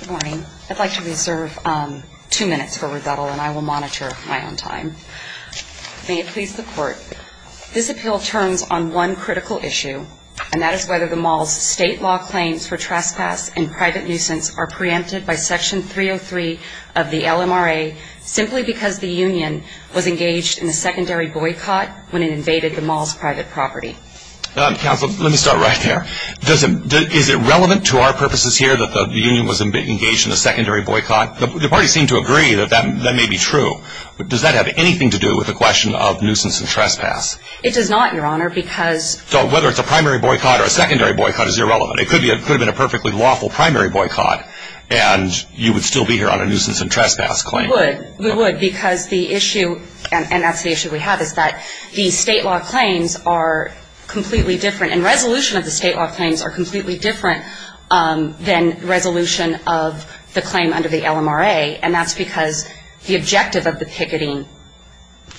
Good morning. I'd like to reserve two minutes for rebuttal, and I will monitor my own time. May it please the Court, this appeal turns on one critical issue, and that is whether the mall's state law claims for trespass and private nuisance are preempted by Section 303 of the LMRA simply because the union was engaged in a secondary boycott when it invaded the mall's private property. Counsel, let me start right there. Is it relevant to our purposes here that the union was engaged in a secondary boycott? The parties seem to agree that that may be true. Does that have anything to do with the question of nuisance and trespass? It does not, Your Honor, because So whether it's a primary boycott or a secondary boycott is irrelevant. It could have been a perfectly lawful primary boycott, and you would still be here on a nuisance and trespass claim. We would, we would, because the issue, and that's the issue we have, is that the state law claims are completely different, and resolution of the state law claims are completely different than resolution of the claim under the LMRA, and that's because the objective of the picketing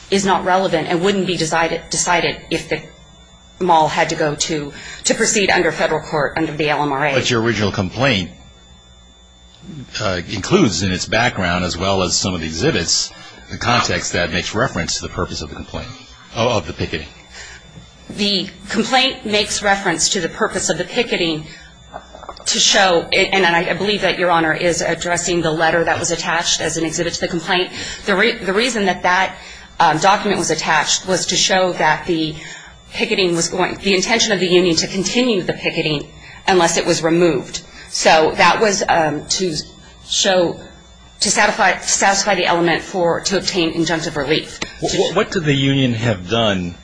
is not relevant and wouldn't be decided if the mall had to go to proceed under federal court under the LMRA. But your original complaint includes in its background, as well as some of the exhibits, the context that makes reference to the purpose of the complaint, of the picketing. The complaint makes reference to the purpose of the picketing to show, and I believe that Your Honor is addressing the letter that was attached as an exhibit to the complaint. The reason that that document was attached was to show that the picketing was going, the intention of the union to continue the picketing unless it was removed. So that was to show, to satisfy the element for, to obtain injunctive relief. What did the union have done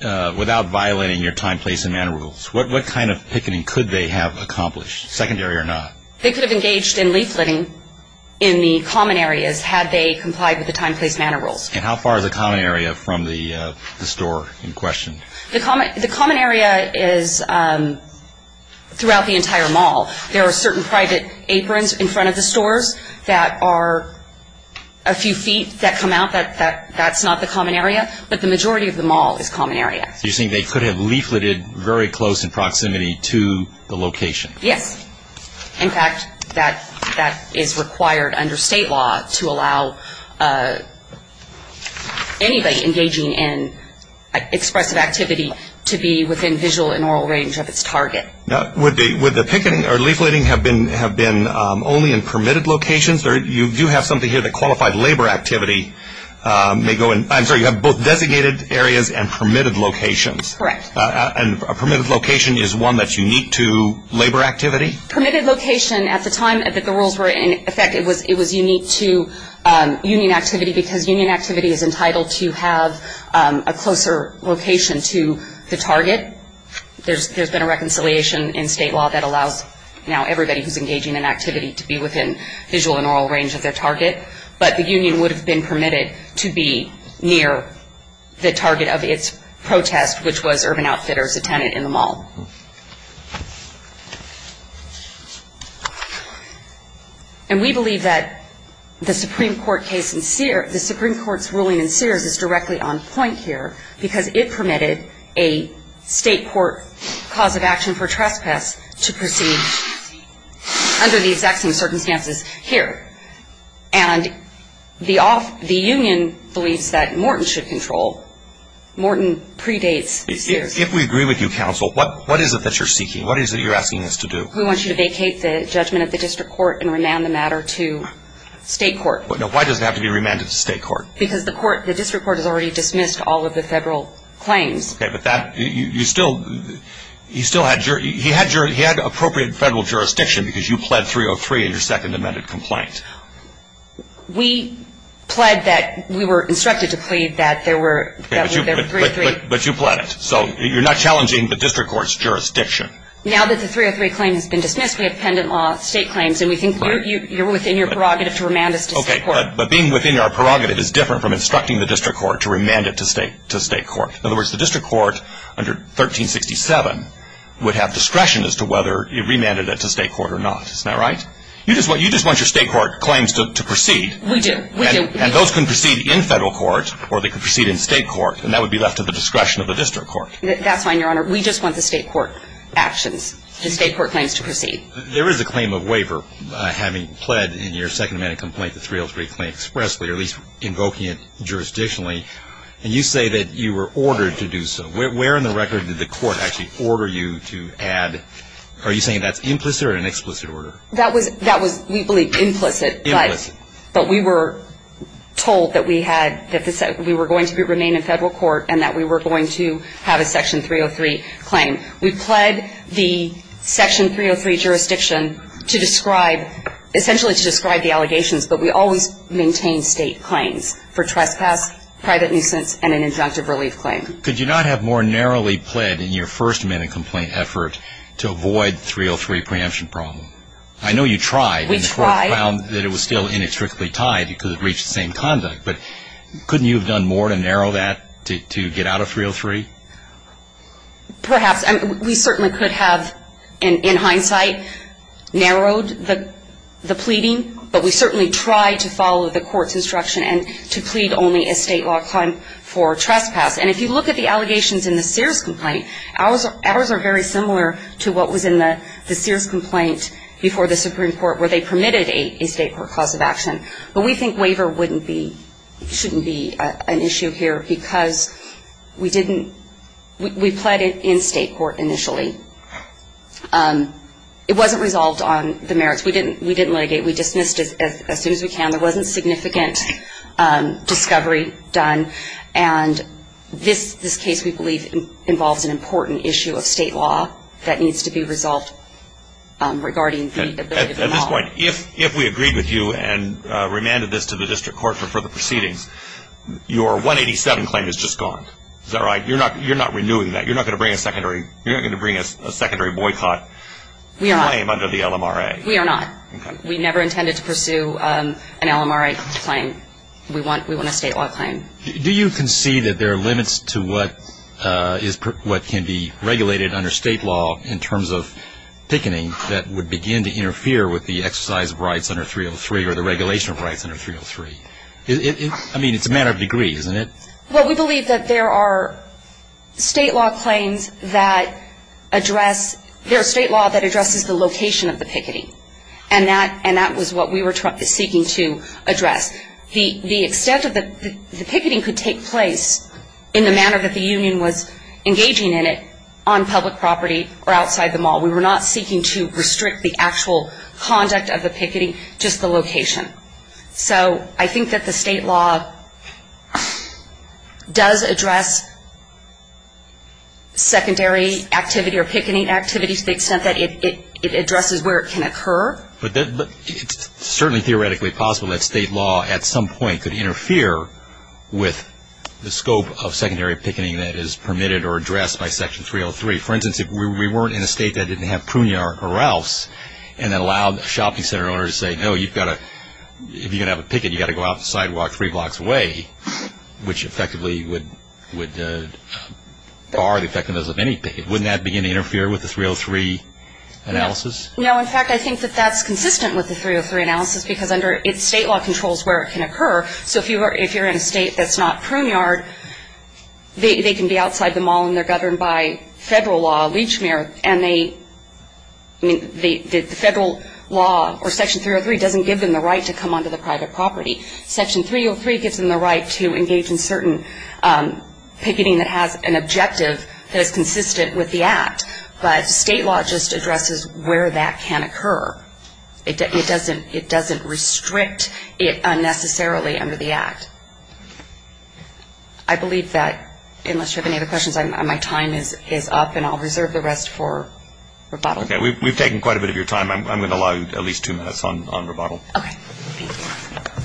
without violating your time, place and manner rules? What kind of picketing could they have accomplished, secondary or not? They could have engaged in leafleting in the common areas had they complied with the time, place and manner rules. And how far is the common area from the store in question? The common area is throughout the entire mall. There are certain private aprons in front of the stores that are a few feet that come out, that's not the common area, but the majority of the mall is common area. So you're saying they could have leafleted very close in proximity to the location? Yes. In fact, that is required under state law to allow anybody engaging in expressive activity to be within visual and oral range of its target. Would the picketing or leafleting have been only in permitted locations? You do have something here that qualified labor activity may go in, I'm sorry, you have both designated areas and permitted locations. Correct. And a permitted location is one that's unique to labor activity? Permitted location at the time that the rules were in effect, it was unique to union activity because union activity is entitled to have a closer location to the target. There's been a reconciliation in state law that allows now everybody who's engaging in activity to be within visual and oral range of their target. But the union would have been permitted to be near the target of its protest, which was Urban Outfitters, a tenant in the mall. And we believe that the Supreme Court's ruling in Sears is directly on point here because it permitted a state court cause of action for trespass to proceed under the exact same circumstances here. And the union believes that Morton should control. Morton predates Sears. If we agree with you, counsel, what is it that you're seeking? What is it you're asking us to do? We want you to vacate the judgment of the district court and remand the matter to state court. Now, why does it have to be remanded to state court? Because the court, the district court has already dismissed all of the federal claims. Okay, but that, you still, he still had, he had appropriate federal jurisdiction because you pled 303 in your second amended complaint. We pled that, we were instructed to plead that there were, that there were three, three. But you pled it, so you're not challenging the district court's jurisdiction. Now that the 303 claim has been dismissed, we have pendant law state claims, and we think you're within your prerogative to remand us to state court. Okay, but being within our prerogative is different from instructing the district court to remand it to state, to state court. In other words, the district court under 1367 would have discretion as to whether it remanded it to state court or not. Isn't that right? You just want, you just want your state court claims to proceed. We do, we do. And those can proceed in federal court, or they can proceed in state court, and that would be left to the discretion of the district court. That's fine, Your Honor. We just want the state court actions, the state court claims to proceed. There is a claim of waiver, having pled in your second amended complaint the 303 claim expressly, or at least invoking it jurisdictionally. And you say that you were ordered to do so. Where in the record did the court actually order you to add, are you saying that's implicit or an explicit order? That was, we believe, implicit. Implicit. But we were told that we had, that we were going to remain in federal court and that we were going to have a section 303 claim. We pled the section 303 jurisdiction to describe, essentially to describe the allegations, but we always maintain state claims for trespass, private nuisance, and an injunctive relief claim. Could you not have more narrowly pled in your first amended complaint effort to avoid 303 preemption problem? I know you tried. We tried. And the court found that it was still inextricably tied because it reached the same conduct, but couldn't you have done more to narrow that to get out of 303? Perhaps. We certainly could have, in hindsight, narrowed the pleading, but we certainly tried to follow the court's instruction and to plead only a state law claim for trespass. And if you look at the allegations in the Sears complaint, ours are very similar to what was in the Sears complaint before the Supreme Court where they permitted a state court cause of action. But we think waiver wouldn't be, shouldn't be an issue here because we didn't, we pled in state court initially. It wasn't resolved on the merits. We didn't litigate. We dismissed as soon as we can. There wasn't significant discovery done. And this case, we believe, involves an important issue of state law that needs to be resolved regarding the ability of the law. At this point, if we agreed with you and remanded this to the district court for further proceedings, your 187 claim is just gone. Is that right? You're not renewing that. You're not going to bring a secondary boycott claim under the LMRA. We are not. We never intended to pursue an LMRA claim. We want a state law claim. Do you concede that there are limits to what can be regulated under state law in terms of picketing that would begin to interfere with the exercise of rights under 303 or the regulation of rights under 303? I mean, it's a matter of degree, isn't it? Well, we believe that there are state law claims that address the location of the picketing. And that was what we were seeking to address. The extent of the picketing could take place in the manner that the union was engaging in it on public property or outside the mall. We were not seeking to restrict the actual conduct of the picketing, just the location. So I think that the state law does address secondary activity or picketing activity to the extent that it addresses where it can occur. But it's certainly theoretically possible that state law at some point could interfere with the scope of secondary picketing that is permitted or addressed by Section 303. For instance, if we weren't in a state that didn't have Prunier or Ralphs and then allowed the shopping center owner to say, no, if you're going to have a picket, you've got to go out the sidewalk three blocks away, which effectively would bar the effectiveness of any picket, wouldn't that begin to interfere with the 303 analysis? No. In fact, I think that that's consistent with the 303 analysis because under it, state law controls where it can occur. So if you're in a state that's not Prunier, they can be outside the mall and they're governed by federal law, and the federal law or Section 303 doesn't give them the right to come onto the private property. Section 303 gives them the right to engage in certain picketing that has an objective that is consistent with the Act. But state law just addresses where that can occur. It doesn't restrict it unnecessarily under the Act. I believe that, unless you have any other questions, my time is up, and I'll reserve the rest for rebuttal. Okay. We've taken quite a bit of your time. I'm going to allow you at least two minutes on rebuttal. Okay. Thank you.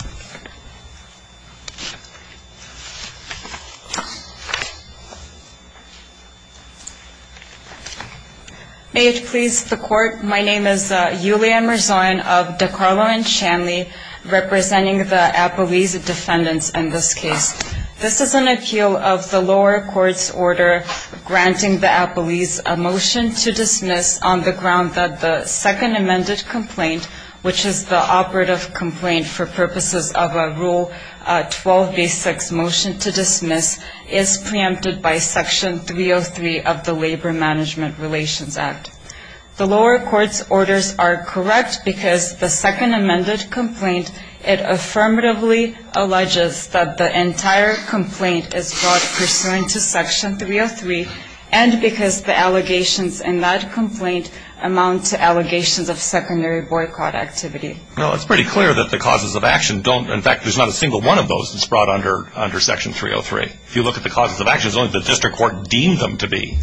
May it please the Court, my name is Julianne Marzoyan of DiCarlo and Shanley, representing the Appalese defendants in this case. This is an appeal of the lower court's order granting the Appalese a motion to dismiss on the ground that the second amended complaint, which is the operative complaint for purposes of a Rule 12b6 motion to dismiss, is preempted by Section 303 of the Labor Management Relations Act. The lower court's orders are correct because the second amended complaint, it affirmatively alleges that the entire complaint is brought pursuant to Section 303, and because the allegations in that complaint amount to allegations of secondary boycott activity. Well, it's pretty clear that the causes of action don't, in fact, there's not a single one of those that's brought under Section 303. If you look at the causes of action, it's only the district court deemed them to be.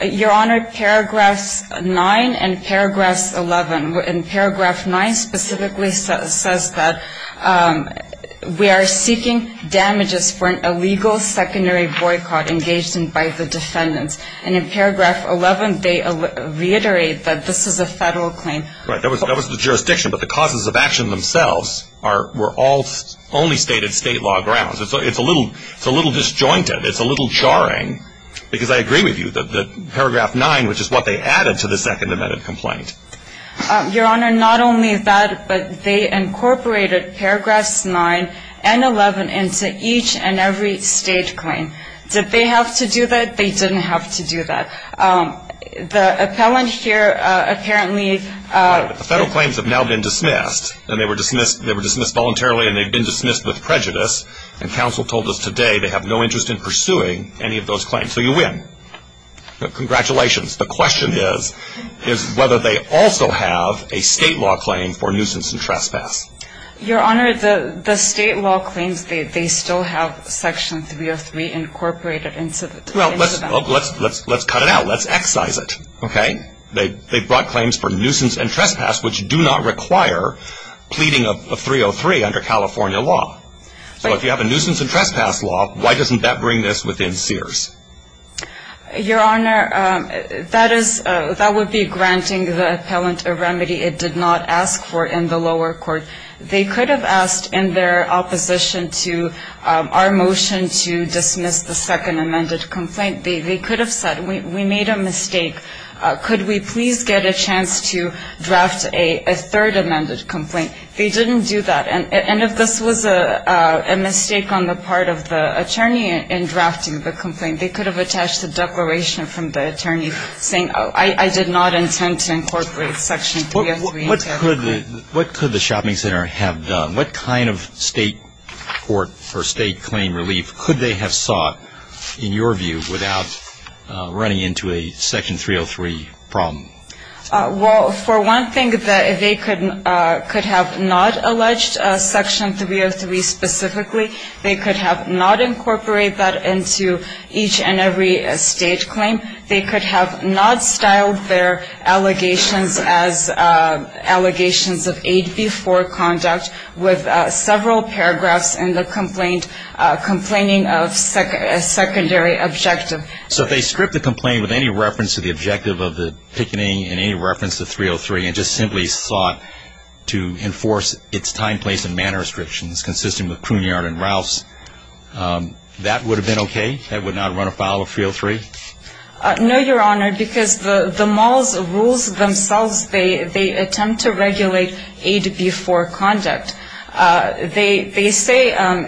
Your Honor, Paragraphs 9 and Paragraphs 11. And Paragraph 9 specifically says that we are seeking damages for an illegal secondary boycott engaged in by the defendants. And in Paragraph 11, they reiterate that this is a federal claim. That was the jurisdiction, but the causes of action themselves were all only stated state law grounds. It's a little disjointed. It's a little jarring because I agree with you that Paragraph 9, which is what they added to the second amended complaint. Your Honor, not only that, but they incorporated Paragraphs 9 and 11 into each and every state claim. Did they have to do that? They didn't have to do that. The appellant here apparently – The federal claims have now been dismissed, and they were dismissed voluntarily, and they've been dismissed with prejudice. And counsel told us today they have no interest in pursuing any of those claims. So you win. Congratulations. The question is whether they also have a state law claim for nuisance and trespass. Your Honor, the state law claims, they still have Section 303 incorporated into them. Well, let's cut it out. Let's excise it. Okay. They brought claims for nuisance and trespass, which do not require pleading of 303 under California law. So if you have a nuisance and trespass law, why doesn't that bring this within Sears? Your Honor, that would be granting the appellant a remedy it did not ask for in the lower court. They could have asked in their opposition to our motion to dismiss the second amended complaint. They could have said, we made a mistake. Could we please get a chance to draft a third amended complaint? They didn't do that. And if this was a mistake on the part of the attorney in drafting the complaint, they could have attached a declaration from the attorney saying I did not intend to incorporate Section 303. What could the shopping center have done? What kind of state court or state claim relief could they have sought, in your view, without running into a Section 303 problem? Well, for one thing, they could have not alleged Section 303 specifically. They could have not incorporated that into each and every state claim. They could have not styled their allegations as allegations of aid before conduct with several paragraphs in the complaint complaining of a secondary objective. So if they stripped the complaint with any reference to the objective of the picketing and any reference to 303 and just simply sought to enforce its time, place, and manner restrictions consisting of Cunard and Rouse, that would have been okay? That would not run afoul of 303? No, Your Honor, because the mall's rules themselves, they attempt to regulate aid before conduct. They say, and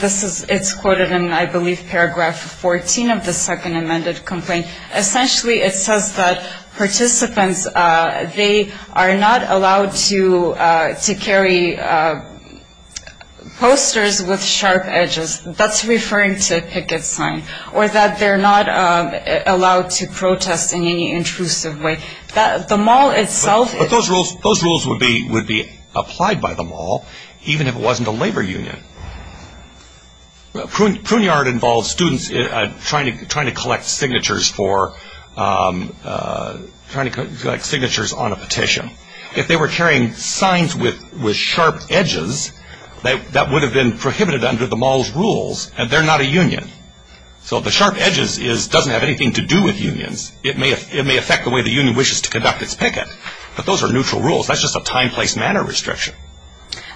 it's quoted in I believe paragraph 14 of the second amended complaint, essentially it says that participants, they are not allowed to carry posters with sharp edges. That's referring to a picket sign. Or that they're not allowed to protest in any intrusive way. The mall itself ---- Those rules would be applied by the mall even if it wasn't a labor union. Cunard involves students trying to collect signatures on a petition. If they were carrying signs with sharp edges, that would have been prohibited under the mall's rules, and they're not a union. So the sharp edges doesn't have anything to do with unions. It may affect the way the union wishes to conduct its picket, but those are neutral rules. That's just a time, place, manner restriction.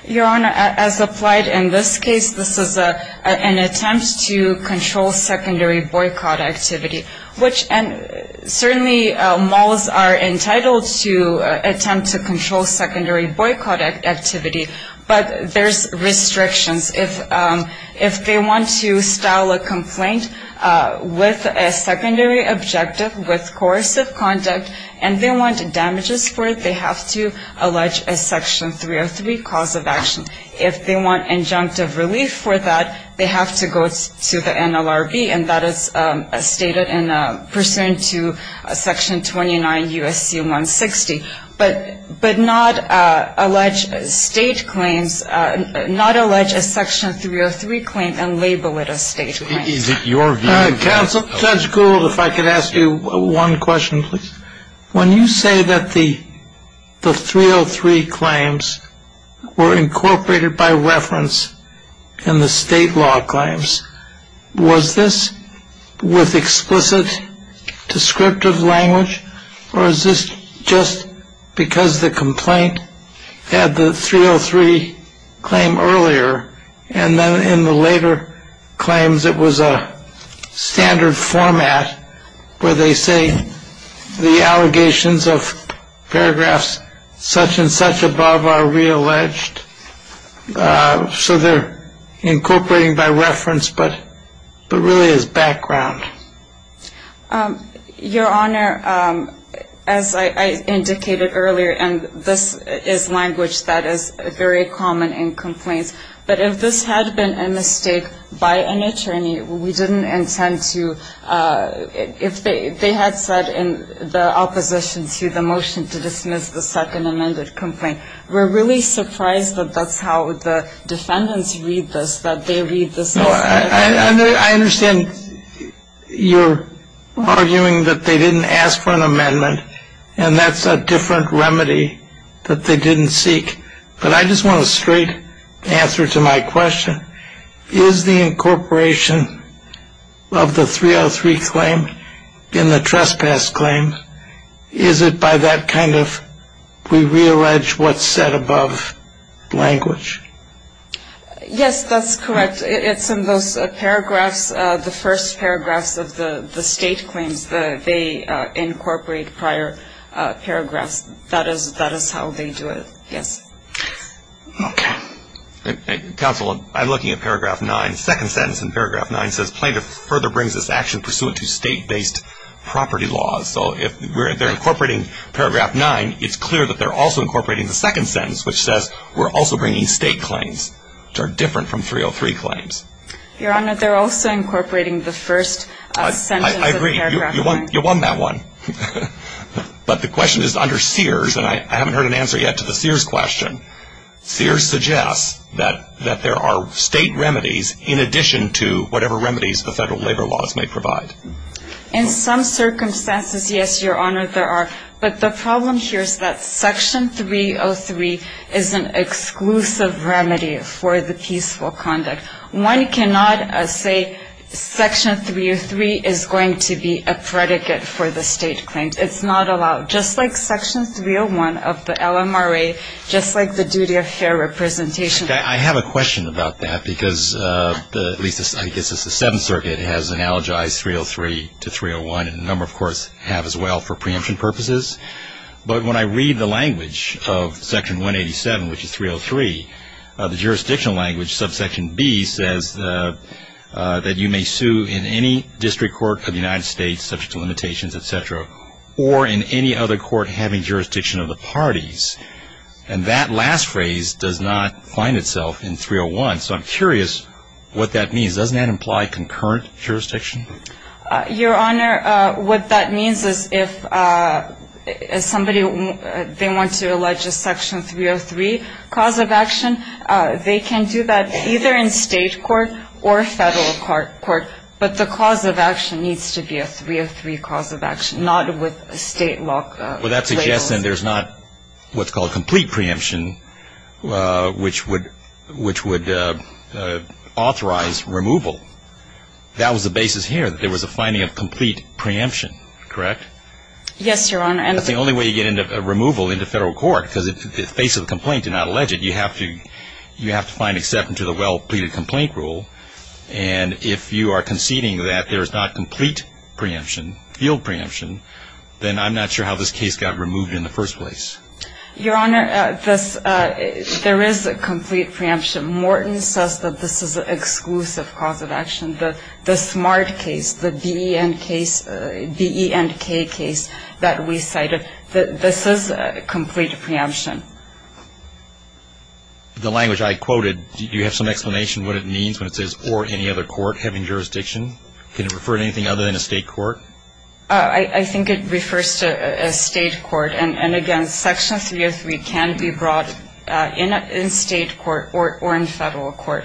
Your Honor, as applied in this case, this is an attempt to control secondary boycott activity, which certainly malls are entitled to attempt to control secondary boycott activity, but there's restrictions. If they want to style a complaint with a secondary objective, with coercive conduct, and they want damages for it, they have to allege a Section 303 cause of action. If they want injunctive relief for that, they have to go to the NLRB, and that is stated in pursuant to Section 29 U.S.C. 160. But not allege state claims, not allege a Section 303 claim and label it a state claim. Is it your view? Counsel, Judge Gould, if I could ask you one question, please. When you say that the 303 claims were incorporated by reference in the state law claims, was this with explicit descriptive language, or is this just because the complaint had the 303 claim earlier, and then in the later claims it was a standard format where they say the allegations of paragraphs such and such above are realleged? So they're incorporating by reference, but really as background. Your Honor, as I indicated earlier, and this is language that is very common in complaints, but if this had been a mistake by an attorney, we didn't intend to ‑‑ if they had said in the opposition to the motion to dismiss the second amended complaint, we're really surprised that that's how the defendants read this, that they read this as ‑‑ I understand you're arguing that they didn't ask for an amendment, and that's a different remedy that they didn't seek, but I just want a straight answer to my question. Is the incorporation of the 303 claim in the trespass claim, is it by that kind of we reallege what's said above language? Yes, that's correct. It's in those paragraphs, the first paragraphs of the state claims. They incorporate prior paragraphs. That is how they do it, yes. Okay. Counsel, I'm looking at paragraph 9. The second sentence in paragraph 9 says plaintiff further brings this action pursuant to state‑based property laws. So if they're incorporating paragraph 9, it's clear that they're also incorporating the second sentence, which says we're also bringing state claims, which are different from 303 claims. Your Honor, they're also incorporating the first sentence of paragraph 9. I agree. You won that one. But the question is under Sears, and I haven't heard an answer yet to the Sears question. Sears suggests that there are state remedies in addition to whatever remedies the federal labor laws may provide. In some circumstances, yes, Your Honor, there are. But the problem here is that section 303 is an exclusive remedy for the peaceful conduct. One cannot say section 303 is going to be a predicate for the state claims. It's not allowed. Just like section 301 of the LMRA, just like the duty of fair representation. I have a question about that because at least I guess it's the Seventh Circuit has analogized 303 to 301, and a number of courts have as well for preemption purposes. But when I read the language of section 187, which is 303, the jurisdictional language, subsection B, says that you may sue in any district court of the United States subject to limitations, et cetera, or in any other court having jurisdiction of the parties. And that last phrase does not find itself in 301. So I'm curious what that means. Doesn't that imply concurrent jurisdiction? Your Honor, what that means is if somebody, they want to allege a section 303 cause of action, they can do that either in state court or federal court. But the cause of action needs to be a 303 cause of action, not with state law. Well, that suggests then there's not what's called complete preemption, which would authorize removal. That was the basis here, that there was a finding of complete preemption, correct? Yes, Your Honor. That's the only way you get removal into federal court, because in the face of a complaint and not alleged, you have to find acceptance to the well-pleaded complaint rule. And if you are conceding that there is not complete preemption, field preemption, then I'm not sure how this case got removed in the first place. Your Honor, there is a complete preemption. Morton says that this is an exclusive cause of action. The SMART case, the BENK case that we cited, this is a complete preemption. The language I quoted, do you have some explanation what it means when it says or any other court having jurisdiction? Can it refer to anything other than a state court? I think it refers to a state court. Your Honor, I don't think it refers to a state court. I don't think it refers to a state court. And again, Section 303 can be brought in state court or in federal court.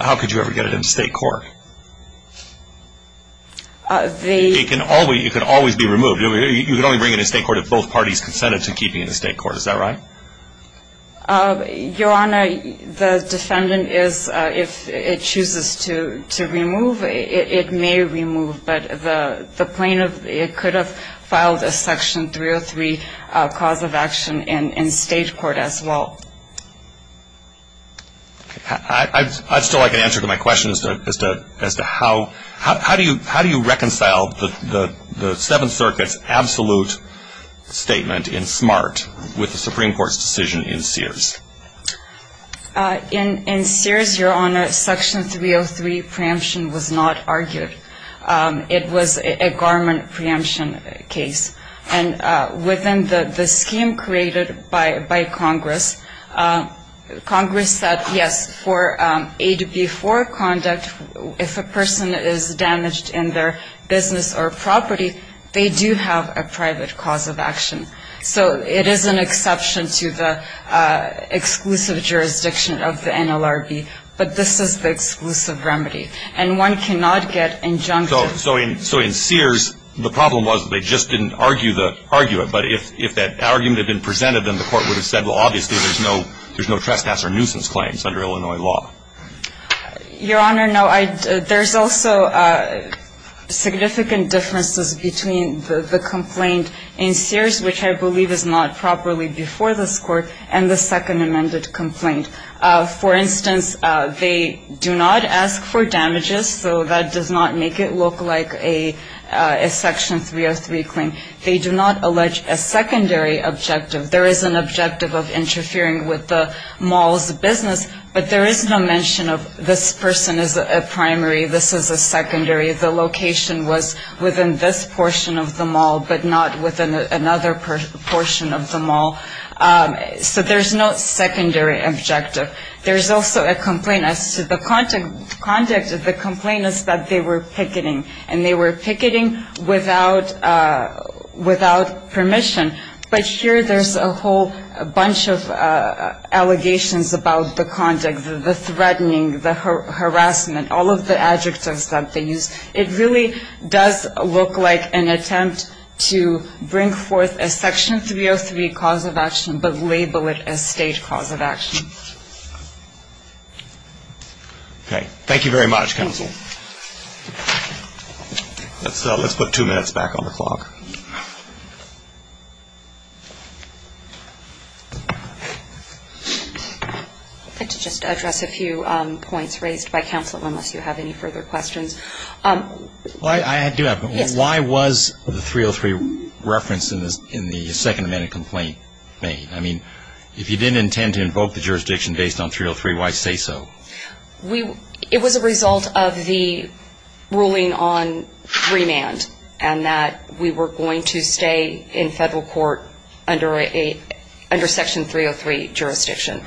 How could you ever get it in state court? It can always be removed. You can only bring it in state court if both parties consented to keeping it in state court. Is that right? Your Honor, the defendant is, if it chooses to remove, it may remove. But the plaintiff could have filed a Section 303 cause of action in state court as well. I'd still like an answer to my question as to how do you reconcile the Seventh Court's decision in Sears. In Sears, Your Honor, Section 303 preemption was not argued. It was a garment preemption case. And within the scheme created by Congress, Congress said, yes, for AB4 conduct, if a person is damaged in their business or property, they do have a private cause of action. So it is an exception to the exclusive jurisdiction of the NLRB. But this is the exclusive remedy. And one cannot get injunctive. So in Sears, the problem was they just didn't argue it. But if that argument had been presented, then the court would have said, well, obviously there's no trespass or nuisance claims under Illinois law. Your Honor, no. There's also significant differences between the complaint in Sears, which I believe is not properly before this Court, and the second amended complaint. For instance, they do not ask for damages. So that does not make it look like a Section 303 claim. They do not allege a secondary objective. There is an objective of interfering with the mall's business, but there is no mention of this person is a primary, this is a secondary. The location was within this portion of the mall, but not within another portion of the mall. So there's no secondary objective. There's also a complaint as to the conduct of the complainants that they were picketing, and they were picketing without permission. But here there's a whole bunch of allegations about the conduct, the threatening, the harassment, all of the adjectives that they used. It really does look like an attempt to bring forth a Section 303 cause of action, but label it a state cause of action. Okay. Thank you very much, counsel. Let's put two minutes back on the clock. I'd like to just address a few points raised by counsel unless you have any further questions. I do have one. Why was the 303 reference in the second amended complaint made? I mean, if you didn't intend to invoke the jurisdiction based on 303, why say so? It was a result of the ruling on remand, and that we were going to stay in federal court under Section 303 jurisdiction.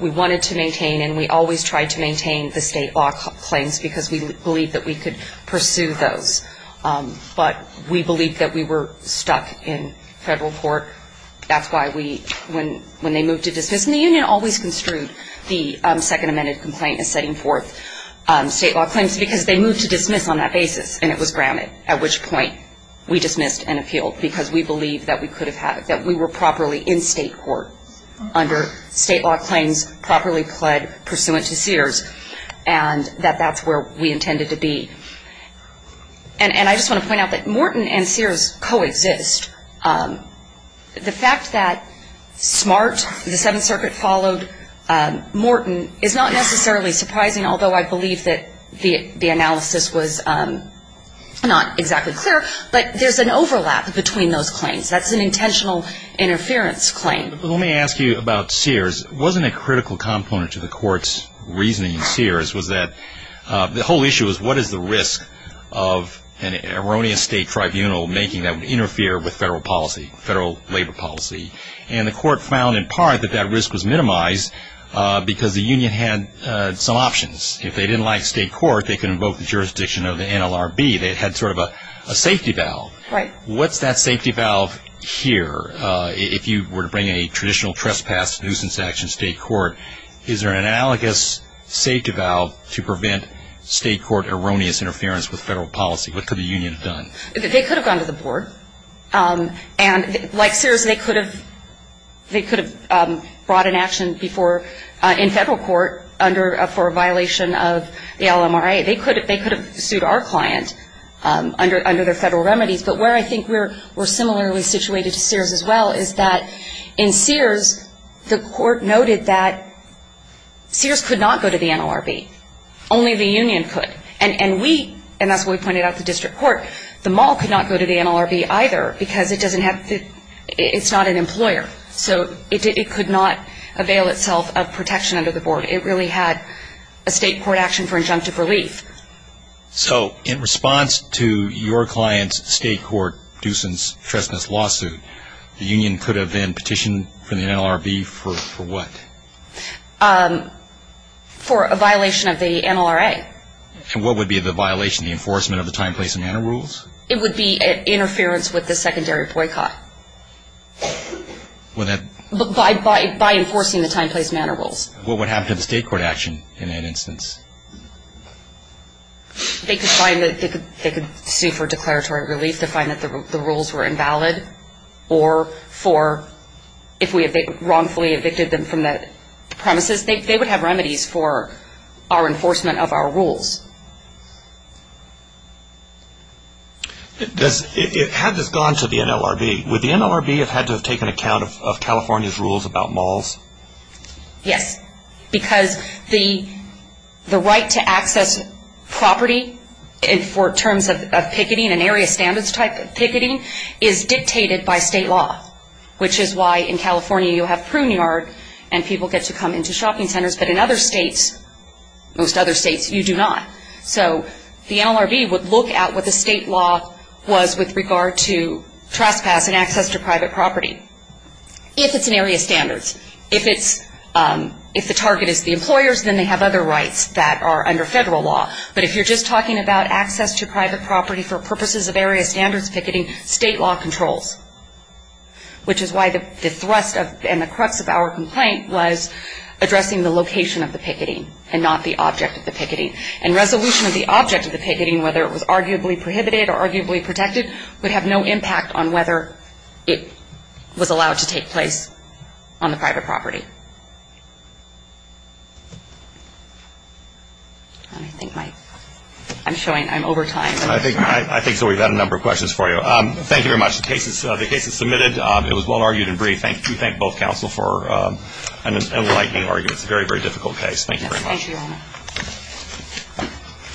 We wanted to maintain and we always tried to maintain the state law claims because we believed that we could pursue those. But we believed that we were stuck in federal court. That's why when they moved to dismiss. Because the union always construed the second amended complaint as setting forth state law claims because they moved to dismiss on that basis, and it was grounded, at which point we dismissed and appealed because we believed that we were properly in state court under state law claims, properly pled pursuant to Sears, and that that's where we intended to be. And I just want to point out that Morton and Sears coexist. The fact that Smart, the Seventh Circuit, followed Morton is not necessarily surprising, although I believe that the analysis was not exactly clear, but there's an overlap between those claims. That's an intentional interference claim. Let me ask you about Sears. Wasn't a critical component to the court's reasoning in Sears was that the whole issue was what is the risk of an erroneous state tribunal making that would interfere with federal policy, federal labor policy, and the court found in part that that risk was minimized because the union had some options. If they didn't like state court, they could invoke the jurisdiction of the NLRB. They had sort of a safety valve. What's that safety valve here? If you were to bring a traditional trespass, nuisance action to state court, is there an analogous safety valve to prevent state court erroneous interference with federal policy? What could the union have done? They could have gone to the board. And like Sears, they could have brought an action in federal court for a violation of the LMRA. They could have sued our client under their federal remedies. But where I think we're similarly situated to Sears as well is that in Sears, the court noted that Sears could not go to the NLRB. Only the union could. And we, and that's what we pointed out to district court, the mall could not go to the NLRB either because it doesn't have the ‑‑ it's not an employer. So it could not avail itself of protection under the board. It really had a state court action for injunctive relief. So in response to your client's state court nuisance trespass lawsuit, the union could have then petitioned from the NLRB for what? For a violation of the NLRA. And what would be the violation? The enforcement of the time, place and manner rules? It would be interference with the secondary boycott. Would that ‑‑ By enforcing the time, place, manner rules. What would happen to the state court action in that instance? They could sue for declaratory relief to find that the rules were invalid or for if we wrongfully evicted them from the premises, they would have remedies for our enforcement of our rules. Had this gone to the NLRB, would the NLRB have had to have taken account of California's rules about malls? Yes, because the right to access property for terms of picketing and area standards type of picketing is dictated by state law, which is why in California you'll have Pruneyard and people get to come into shopping centers, but in other states, most other states, you do not. So the NLRB would look at what the state law was with regard to trespass and access to private property. If it's in area standards. If it's ‑‑ if the target is the employers, then they have other rights that are under federal law. But if you're just talking about access to private property for purposes of area standards picketing, state law controls, which is why the thrust and the crux of our complaint was addressing the location of the picketing and not the object of the picketing. And resolution of the object of the picketing, whether it was arguably prohibited or arguably protected, would have no impact on whether it was allowed to take place on the private property. I think my ‑‑ I'm showing I'm over time. I think we've had a number of questions for you. Thank you very much. The case is submitted. It was well argued and brief. We thank both counsel for an enlightening argument. Thank you very much. Thank you, Your Honor.